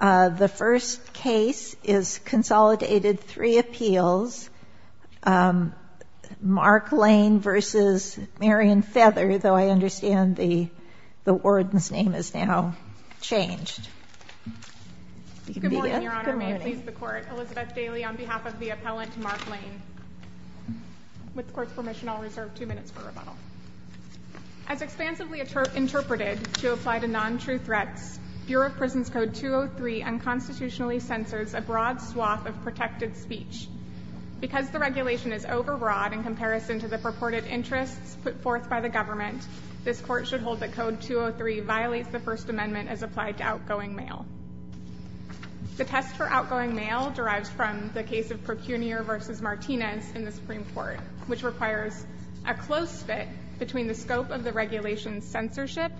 The first case is Consolidated Three Appeals, Mark Lane v. Marion Feather, though I understand the warden's name has now changed. Good morning, Your Honor. May it please the Court, Elizabeth Daly on behalf of the appellant Mark Lane. With the Court's permission, I'll reserve two minutes for rebuttal. As expansively interpreted to apply to non-true threats, Bureau of Prisons Code 203 unconstitutionally censors a broad swath of protected speech. Because the regulation is overbroad in comparison to the purported interests put forth by the government, this Court should hold that Code 203 violates the First Amendment as applied to outgoing mail. The test for outgoing mail derives from the case of Procunier v. Martinez in the Supreme Court, which requires a close fit between the scope of the regulation's censorship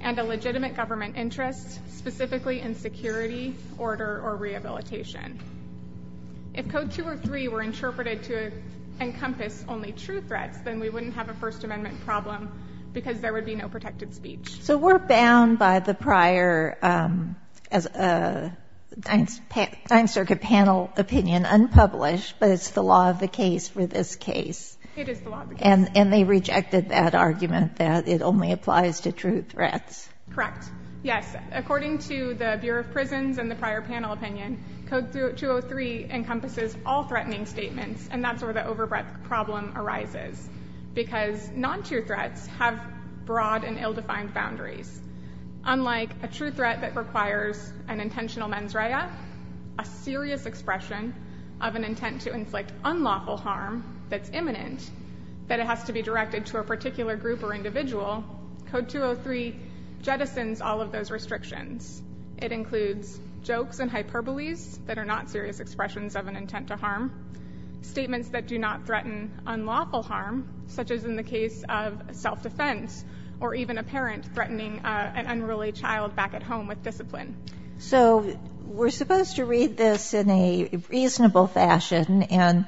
and a legitimate government interest, specifically in security, order, or rehabilitation. If Code 203 were interpreted to encompass only true threats, then we wouldn't have a First Amendment problem because there would be no protected speech. So we're bound by the prior Ninth Circuit panel opinion unpublished, but it's the law of the case for this case. It is the law of the case. And they rejected that argument that it only applies to true threats. Correct. Yes. According to the Bureau of Prisons and the prior panel opinion, Code 203 encompasses all threatening statements, and that's where the overbreadth problem arises, because non-true threats have broad and ill-defined boundaries. Unlike a true threat that requires an intentional mens rea, a serious expression of an intent to inflict unlawful harm that's imminent, that it has to be directed to a particular group or individual, Code 203 jettisons all of those restrictions. It includes jokes and hyperboles that are not serious expressions of an intent to harm, statements that do not threaten unlawful harm, such as in the case of self-defense or even a parent threatening an unruly child back at home with discipline. So we're supposed to read this in a reasonable fashion, and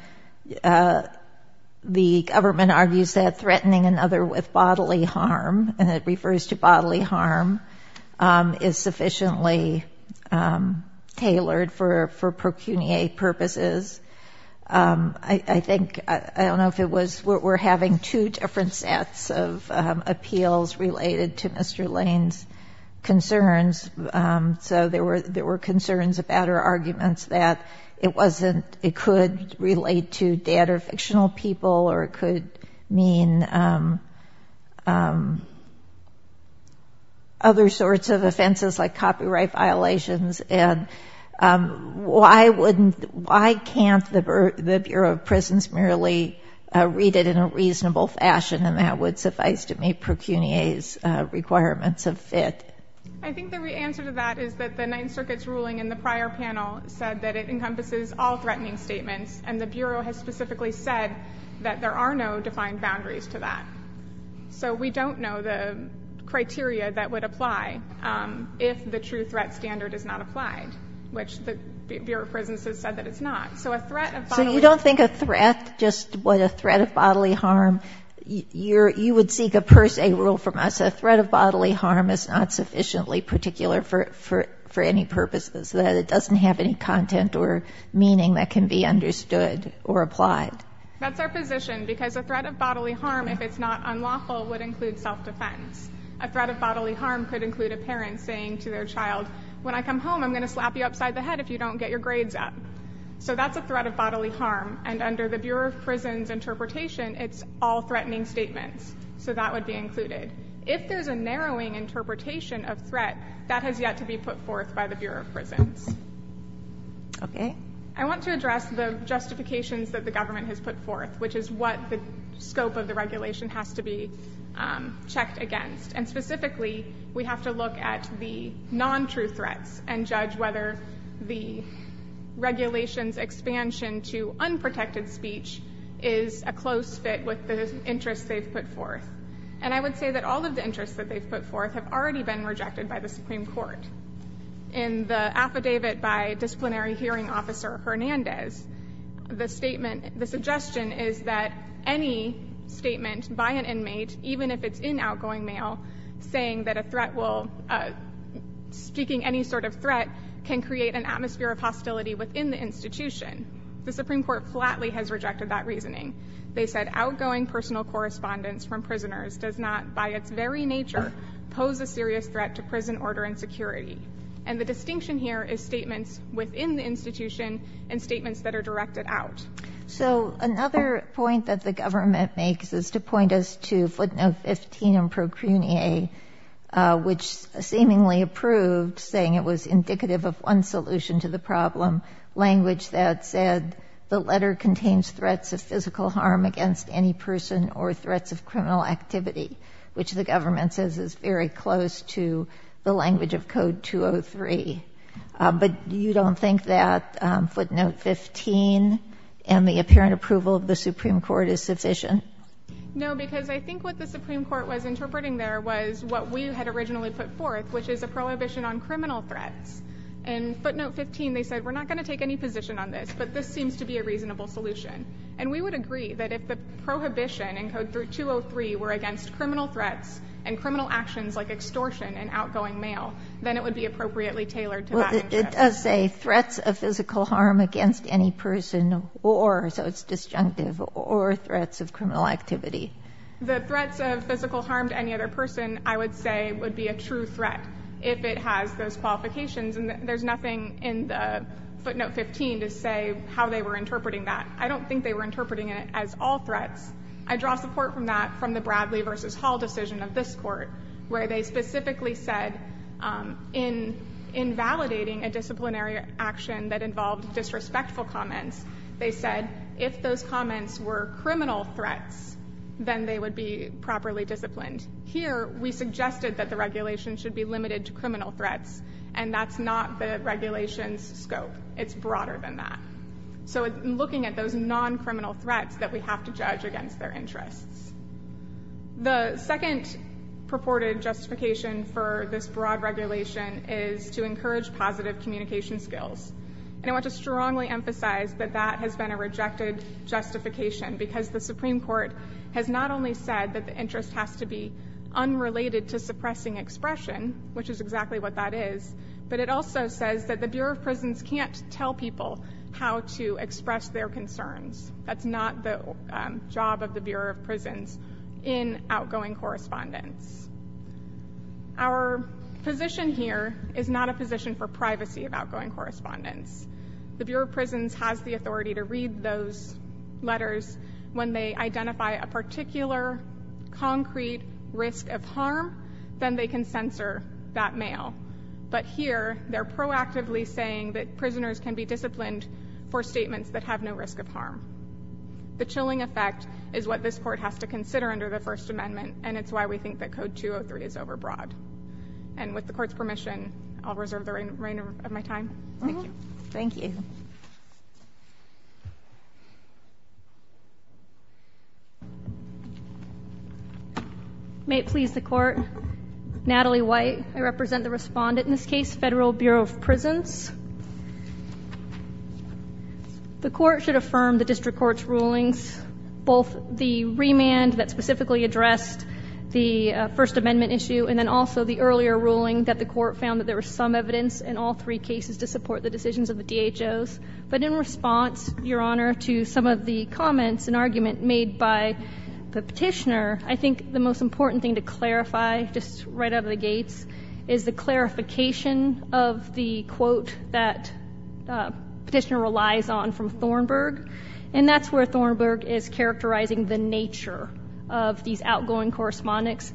the government argues that threatening another with bodily harm, and it refers to bodily harm, is sufficiently tailored for procuniate purposes. I think, I don't know if it was, we're having two different sets of appeals related to Mr. Lane's concerns. So there were concerns about or arguments that it wasn't, it could relate to dead or fictional people, or it could mean other sorts of offenses like copyright violations, and why wouldn't, why can't the Bureau of Prisons merely read it in a reasonable fashion, and that would suffice to meet procuniate's requirements of fit? I think the right answer to that is that the Ninth Circuit's ruling in the prior panel said that it encompasses all threatening statements, and the Bureau has specifically said that there are no defined boundaries to that. So we don't know the criteria that would apply if the true threat standard is not applied, which the Bureau of Prisons has said that it's not. So a threat of bodily harm... So you don't think a threat, just what a threat of bodily harm, you would seek a per se rule from us, a threat of bodily harm is not sufficiently particular for any purposes, that it doesn't have any content or meaning that can be understood or applied? That's our position, because a threat of bodily harm, if it's not unlawful, would include self-defense. A threat of bodily harm could include a parent saying to their child, when I come home, I'm going to slap you upside the head if you don't get your grades up. So that's a threat of bodily harm, and under the Bureau of Prisons interpretation, it's all threatening statements. So that would be included. If there's a narrowing interpretation of threat, that has yet to be put forth by the Bureau of Prisons. Okay. I want to address the justifications that the government has put forth, which is what the scope of the regulation has to be checked against. And specifically, we have to look at the non-true threats and judge whether the regulation's expansion to unprotected speech is a close fit with the interest they've put forth. And I would say that all of the interests that they've put forth have already been rejected by the Supreme Court. In the affidavit by Disciplinary Hearing Officer Hernandez, the suggestion is that any statement by an inmate, even if it's in outgoing mail, saying that speaking any sort of threat can create an atmosphere of hostility within the institution. They said, Outgoing personal correspondence from prisoners does not, by its very nature, pose a serious threat to prison order and security. And the distinction here is statements within the institution and statements that are directed out. So another point that the government makes is to point us to footnote 15 in procurnee, which seemingly approved, saying it was indicative of one solution to the problem, language that said, The letter contains threats of physical harm against any person or threats of criminal activity, which the government says is very close to the language of Code 203. But you don't think that footnote 15 and the apparent approval of the Supreme Court is sufficient? No, because I think what the Supreme Court was interpreting there was what we had originally put forth, which is a prohibition on criminal threats. In footnote 15, they said, We're not going to take any position on this, but this seems to be a reasonable solution. And we would agree that if the prohibition in Code 203 were against criminal threats and criminal actions like extortion in outgoing mail, then it would be appropriately tailored to that interest. It does say threats of physical harm against any person or, so it's disjunctive, or threats of criminal activity. The threats of physical harm to any other person, I would say, would be a true threat if it has those qualifications. And there's nothing in the footnote 15 to say how they were interpreting that. I don't think they were interpreting it as all threats. I draw support from that from the Bradley v. Hall decision of this court, where they specifically said, In invalidating a disciplinary action that involved disrespectful comments, they said, If those comments were criminal threats, then they would be properly disciplined. Here, we suggested that the regulation should be limited to criminal threats, and that's not the regulation's scope. It's broader than that. So looking at those non-criminal threats that we have to judge against their interests. The second purported justification for this broad regulation is to encourage positive communication skills. And I want to strongly emphasize that that has been a rejected justification because the Supreme Court has not only said that the interest has to be unrelated to suppressing expression, which is exactly what that is, but it also says that the Bureau of Prisons can't tell people how to express their concerns. That's not the job of the Bureau of Prisons in outgoing correspondence. Our position here is not a position for privacy of outgoing correspondence. The Bureau of Prisons has the authority to read those letters. When they identify a particular, concrete risk of harm, then they can censor that mail. But here, they're proactively saying that prisoners can be disciplined for statements that have no risk of harm. The chilling effect is what this court has to consider under the First Amendment, and it's why we think that Code 203 is overbroad. And with the court's permission, I'll reserve the remainder of my time. Thank you. Thank you. May it please the court. Natalie White, I represent the respondent in this case, Federal Bureau of Prisons. The court should affirm the district court's rulings, both the remand that specifically addressed the First Amendment issue and then also the earlier ruling that the court found that there was some evidence in all three cases to support the decisions of the DHOs. But in response, Your Honor, to some of the comments and argument made by the petitioner, I think the most important thing to clarify, just right out of the gates, is the clarification of the quote that the petitioner relies on from Thornburg. And that's where Thornburg is characterizing the nature of these outgoing correspondence.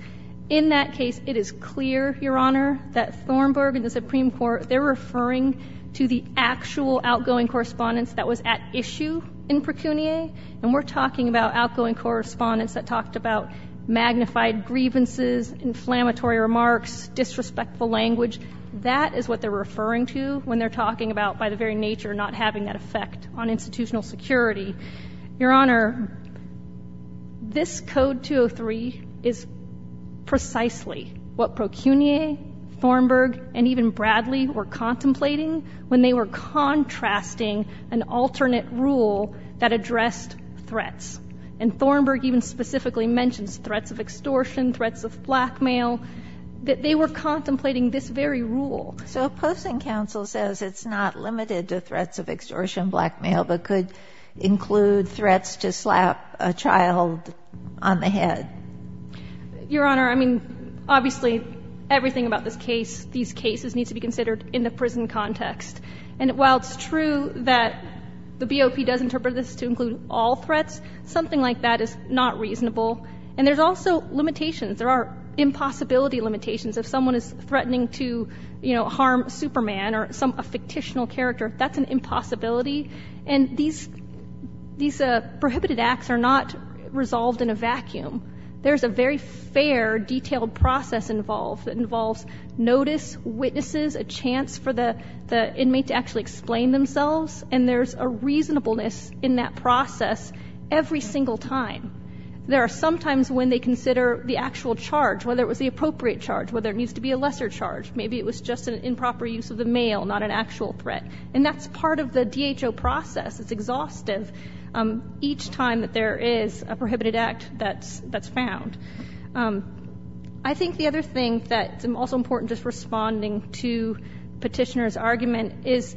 In that case, it is clear, Your Honor, that Thornburg and the Supreme Court, they're referring to the actual outgoing correspondence that was at issue in Precuniae. And we're talking about outgoing correspondence that talked about magnified grievances, inflammatory remarks, disrespectful language. That is what they're referring to when they're talking about, by the very nature, not having that effect on institutional security. Your Honor, this Code 203 is precisely what Precuniae, Thornburg, and even Bradley were contemplating when they were contrasting an alternate rule that addressed threats. And Thornburg even specifically mentions threats of extortion, threats of blackmail, that they were contemplating this very rule. So Post and Counsel says it's not limited to threats of extortion, blackmail, but could include threats to slap a child on the head. Your Honor, I mean, obviously, everything about this case, these cases need to be considered in the prison context. And while it's true that the BOP does interpret this to include all threats, something like that is not reasonable. And there's also limitations. There are impossibility limitations. If someone is threatening to harm Superman or a fictitional character, that's an impossibility. And these prohibited acts are not resolved in a vacuum. There's a very fair, detailed process involved that involves notice, witnesses, a chance for the inmate to actually explain themselves, and there's a reasonableness in that process every single time. There are some times when they consider the actual charge, whether it was the appropriate charge, whether it needs to be a lesser charge. Maybe it was just an improper use of the mail, not an actual threat. And that's part of the DHO process. It's exhaustive each time that there is a prohibited act that's found. I think the other thing that's also important, just responding to Petitioner's argument, is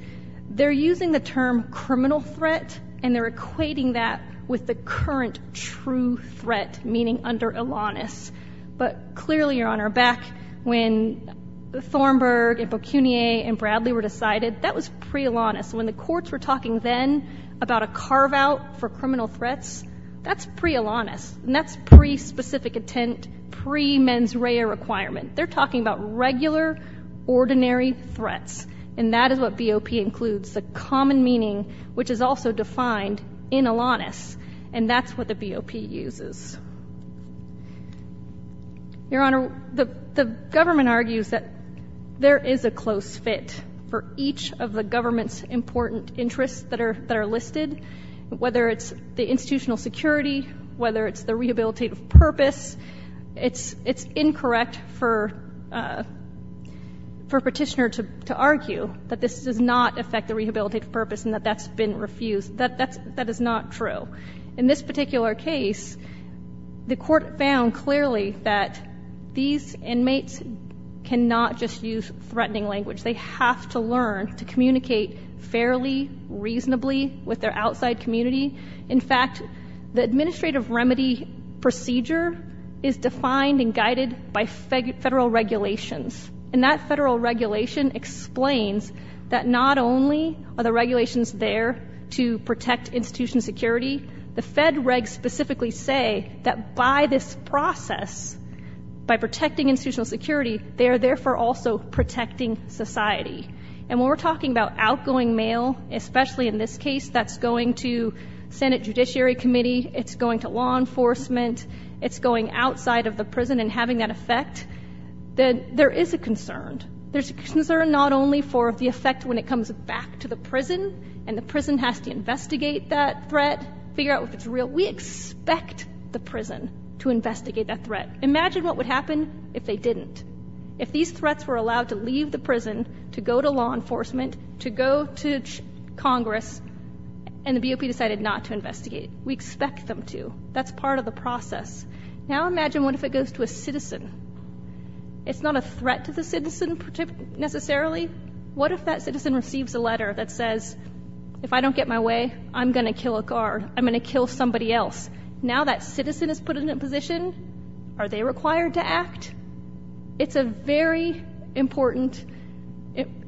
they're using the term criminal threat, and they're equating that with the current true threat, meaning under Elanis. But clearly, Your Honor, back when Thornburg and Beaucunier and Bradley were decided, that was pre-Elanis. When the courts were talking then about a carve-out for criminal threats, that's pre-Elanis, and that's pre-specific intent, pre-mens rea requirement. They're talking about regular, ordinary threats, and that is what BOP includes, the common meaning, which is also defined in Elanis, and that's what the BOP uses. Your Honor, the government argues that there is a close fit for each of the government's important interests that are listed, whether it's the institutional security, whether it's the rehabilitative purpose. It's incorrect for Petitioner to argue that this does not affect the rehabilitative purpose and that that's been refused. That is not true. In this particular case, the court found clearly that these inmates cannot just use threatening language. They have to learn to communicate fairly, reasonably with their outside community. In fact, the administrative remedy procedure is defined and guided by federal regulations, and that federal regulation explains that not only are the regulations there to protect institutional security, the Fed regs specifically say that by this process, by protecting institutional security, they are therefore also protecting society. And when we're talking about outgoing mail, especially in this case, that's going to Senate Judiciary Committee, it's going to law enforcement, it's going outside of the prison and having that effect, then there is a concern. There's a concern not only for the effect when it comes back to the prison and the prison has to investigate that threat, figure out if it's real. We expect the prison to investigate that threat. Imagine what would happen if they didn't, if these threats were allowed to leave the prison, to go to law enforcement, to go to Congress, and the BOP decided not to investigate. We expect them to. That's part of the process. Now imagine what if it goes to a citizen. It's not a threat to the citizen necessarily. What if that citizen receives a letter that says, if I don't get my way, I'm going to kill a guard, I'm going to kill somebody else. Now that citizen is put in a position, are they required to act? It's a very important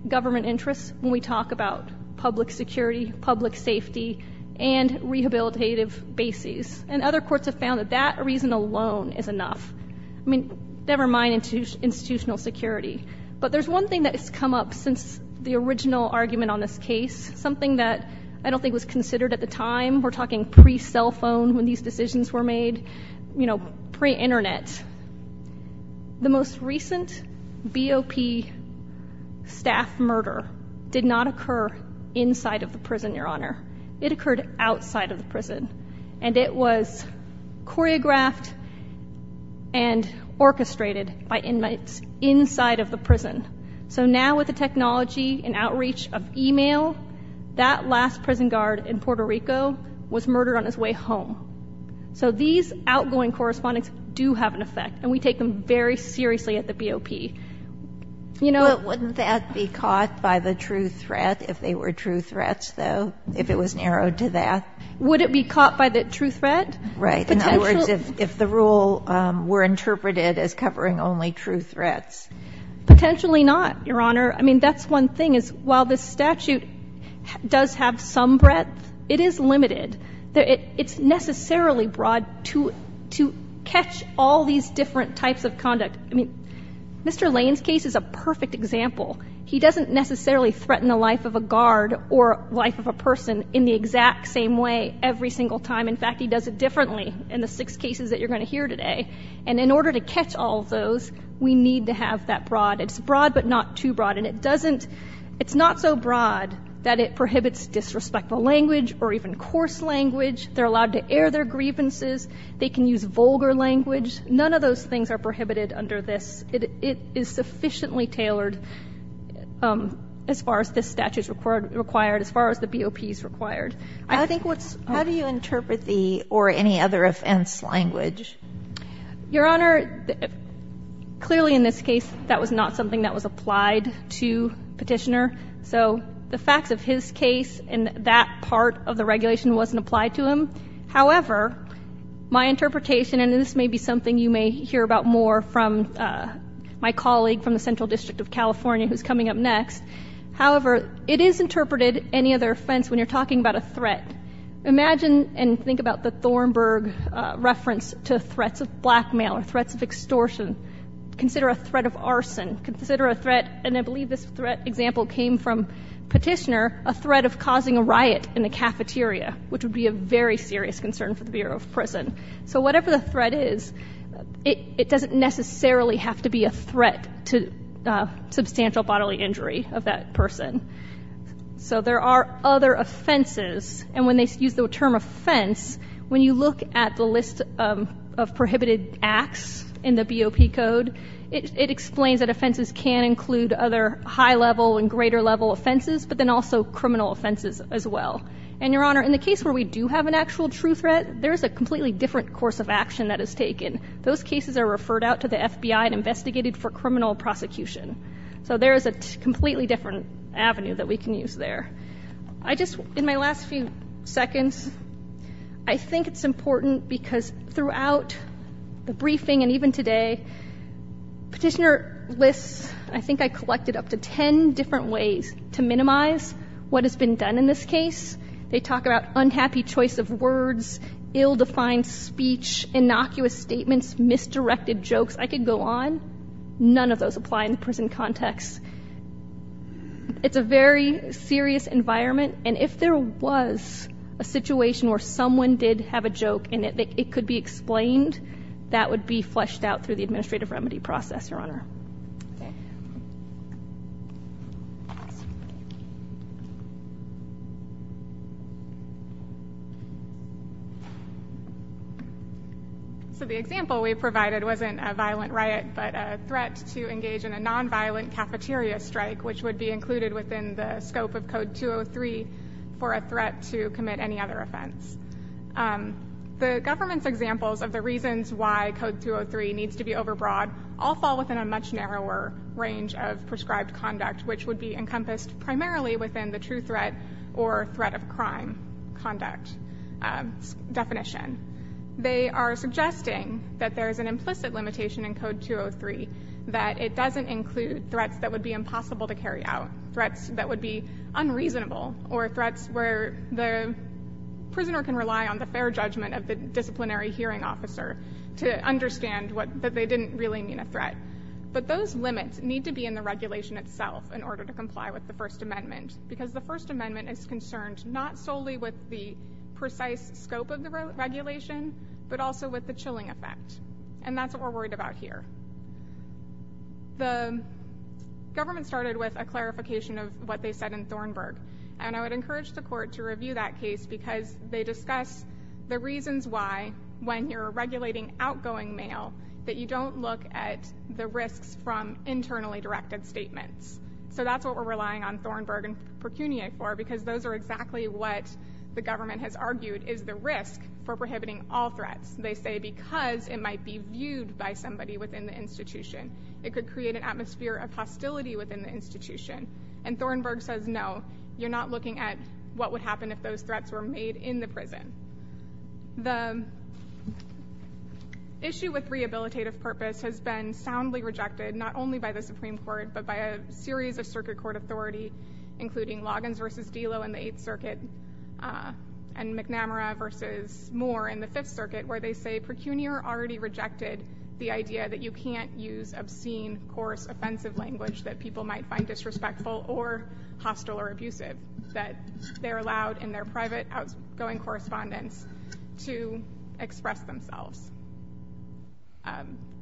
government interest when we talk about public security, public safety, and rehabilitative bases. And other courts have found that that reason alone is enough. I mean, never mind institutional security. But there's one thing that has come up since the original argument on this case, something that I don't think was considered at the time. We're talking pre-cell phone when these decisions were made, you know, pre-Internet. The most recent BOP staff murder did not occur inside of the prison, Your Honor. It occurred outside of the prison. And it was choreographed and orchestrated by inmates inside of the prison. So now with the technology and outreach of e-mail, that last prison guard in Puerto Rico was murdered on his way home. So these outgoing correspondents do have an effect, and we take them very seriously at the BOP. But wouldn't that be caught by the true threat if they were true threats, though, if it was narrowed to that? Would it be caught by the true threat? In other words, if the rule were interpreted as covering only true threats. Potentially not, Your Honor. I mean, that's one thing is while this statute does have some breadth, it is limited. It's necessarily broad to catch all these different types of conduct. I mean, Mr. Lane's case is a perfect example. He doesn't necessarily threaten the life of a guard or life of a person in the exact same way every single time. In fact, he does it differently in the six cases that you're going to hear today. And in order to catch all of those, we need to have that broad. It's broad but not too broad. And it doesn't – it's not so broad that it prohibits disrespectful language or even coarse language. They're allowed to air their grievances. They can use vulgar language. None of those things are prohibited under this. It is sufficiently tailored as far as this statute is required, as far as the BOP is required. I think what's – How do you interpret the or any other offense language? Your Honor, clearly in this case, that was not something that was applied to Petitioner. So the facts of his case and that part of the regulation wasn't applied to him. However, my interpretation, and this may be something you may hear about more from my colleague from the Central District of California who's coming up next. However, it is interpreted, any other offense, when you're talking about a threat. Imagine and think about the Thornburg reference to threats of blackmail or threats of extortion. Consider a threat of arson. Consider a threat, and I believe this threat example came from Petitioner, a threat of causing a riot in the cafeteria, which would be a very serious concern for the Bureau of Prison. So whatever the threat is, it doesn't necessarily have to be a threat to substantial bodily injury of that person. So there are other offenses, and when they use the term offense, when you look at the list of prohibited acts in the BOP code, it explains that offenses can include other high-level and greater-level offenses, but then also criminal offenses as well. And, Your Honor, in the case where we do have an actual true threat, there is a completely different course of action that is taken. Those cases are referred out to the FBI and investigated for criminal prosecution. So there is a completely different avenue that we can use there. I just, in my last few seconds, I think it's important because throughout the briefing and even today, Petitioner lists, I think I collected up to 10 different ways to minimize what has been done in this case. They talk about unhappy choice of words, ill-defined speech, innocuous statements, misdirected jokes. I could go on. None of those apply in the prison context. It's a very serious environment, and if there was a situation where someone did have a joke in it, it could be explained, that would be fleshed out through the administrative remedy process, Your Honor. So the example we provided wasn't a violent riot, but a threat to engage in a nonviolent cafeteria strike, which would be included within the scope of Code 203 for a threat to commit any other offense. The government's examples of the reasons why Code 203 needs to be overbroad all fall within a much narrower range of prescribed conduct, which would be encompassed primarily within the true threat or threat of crime conduct definition. They are suggesting that there is an implicit limitation in Code 203, that it doesn't include threats that would be impossible to carry out, threats that would be unreasonable, or threats where the prisoner can rely on the fair judgment of the disciplinary hearing officer to understand that they didn't really mean a threat. But those limits need to be in the regulation itself in order to comply with the First Amendment, because the First Amendment is concerned not solely with the precise scope of the regulation, but also with the chilling effect, and that's what we're worried about here. The government started with a clarification of what they said in Thornburg, and I would encourage the court to review that case because they discuss the reasons why, when you're regulating outgoing mail, that you don't look at the risks from internally directed statements. So that's what we're relying on Thornburg and Pecunia for, because those are exactly what the government has argued is the risk for prohibiting all threats. They say because it might be viewed by somebody within the institution. It could create an atmosphere of hostility within the institution. And Thornburg says no, you're not looking at what would happen if those threats were made in the prison. The issue with rehabilitative purpose has been soundly rejected, not only by the Supreme Court, but by a series of circuit court authority, including Loggins v. Delo in the Eighth Circuit, and McNamara v. Moore in the Fifth Circuit, where they say Pecunia already rejected the idea that you can't use obscene, coarse, offensive language that people might find disrespectful or hostile or abusive, that they're allowed in their private outgoing correspondence to express themselves.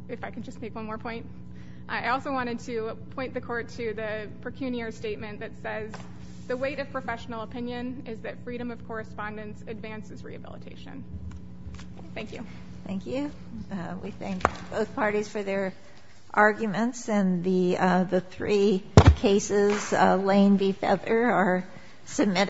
If I could just make one more point. I also wanted to point the court to the Pecunia statement that says the weight of professional opinion is that freedom of correspondence advances rehabilitation. Thank you. Thank you. We thank both parties for their arguments, and the three cases, Lane v. Feather, are submitted.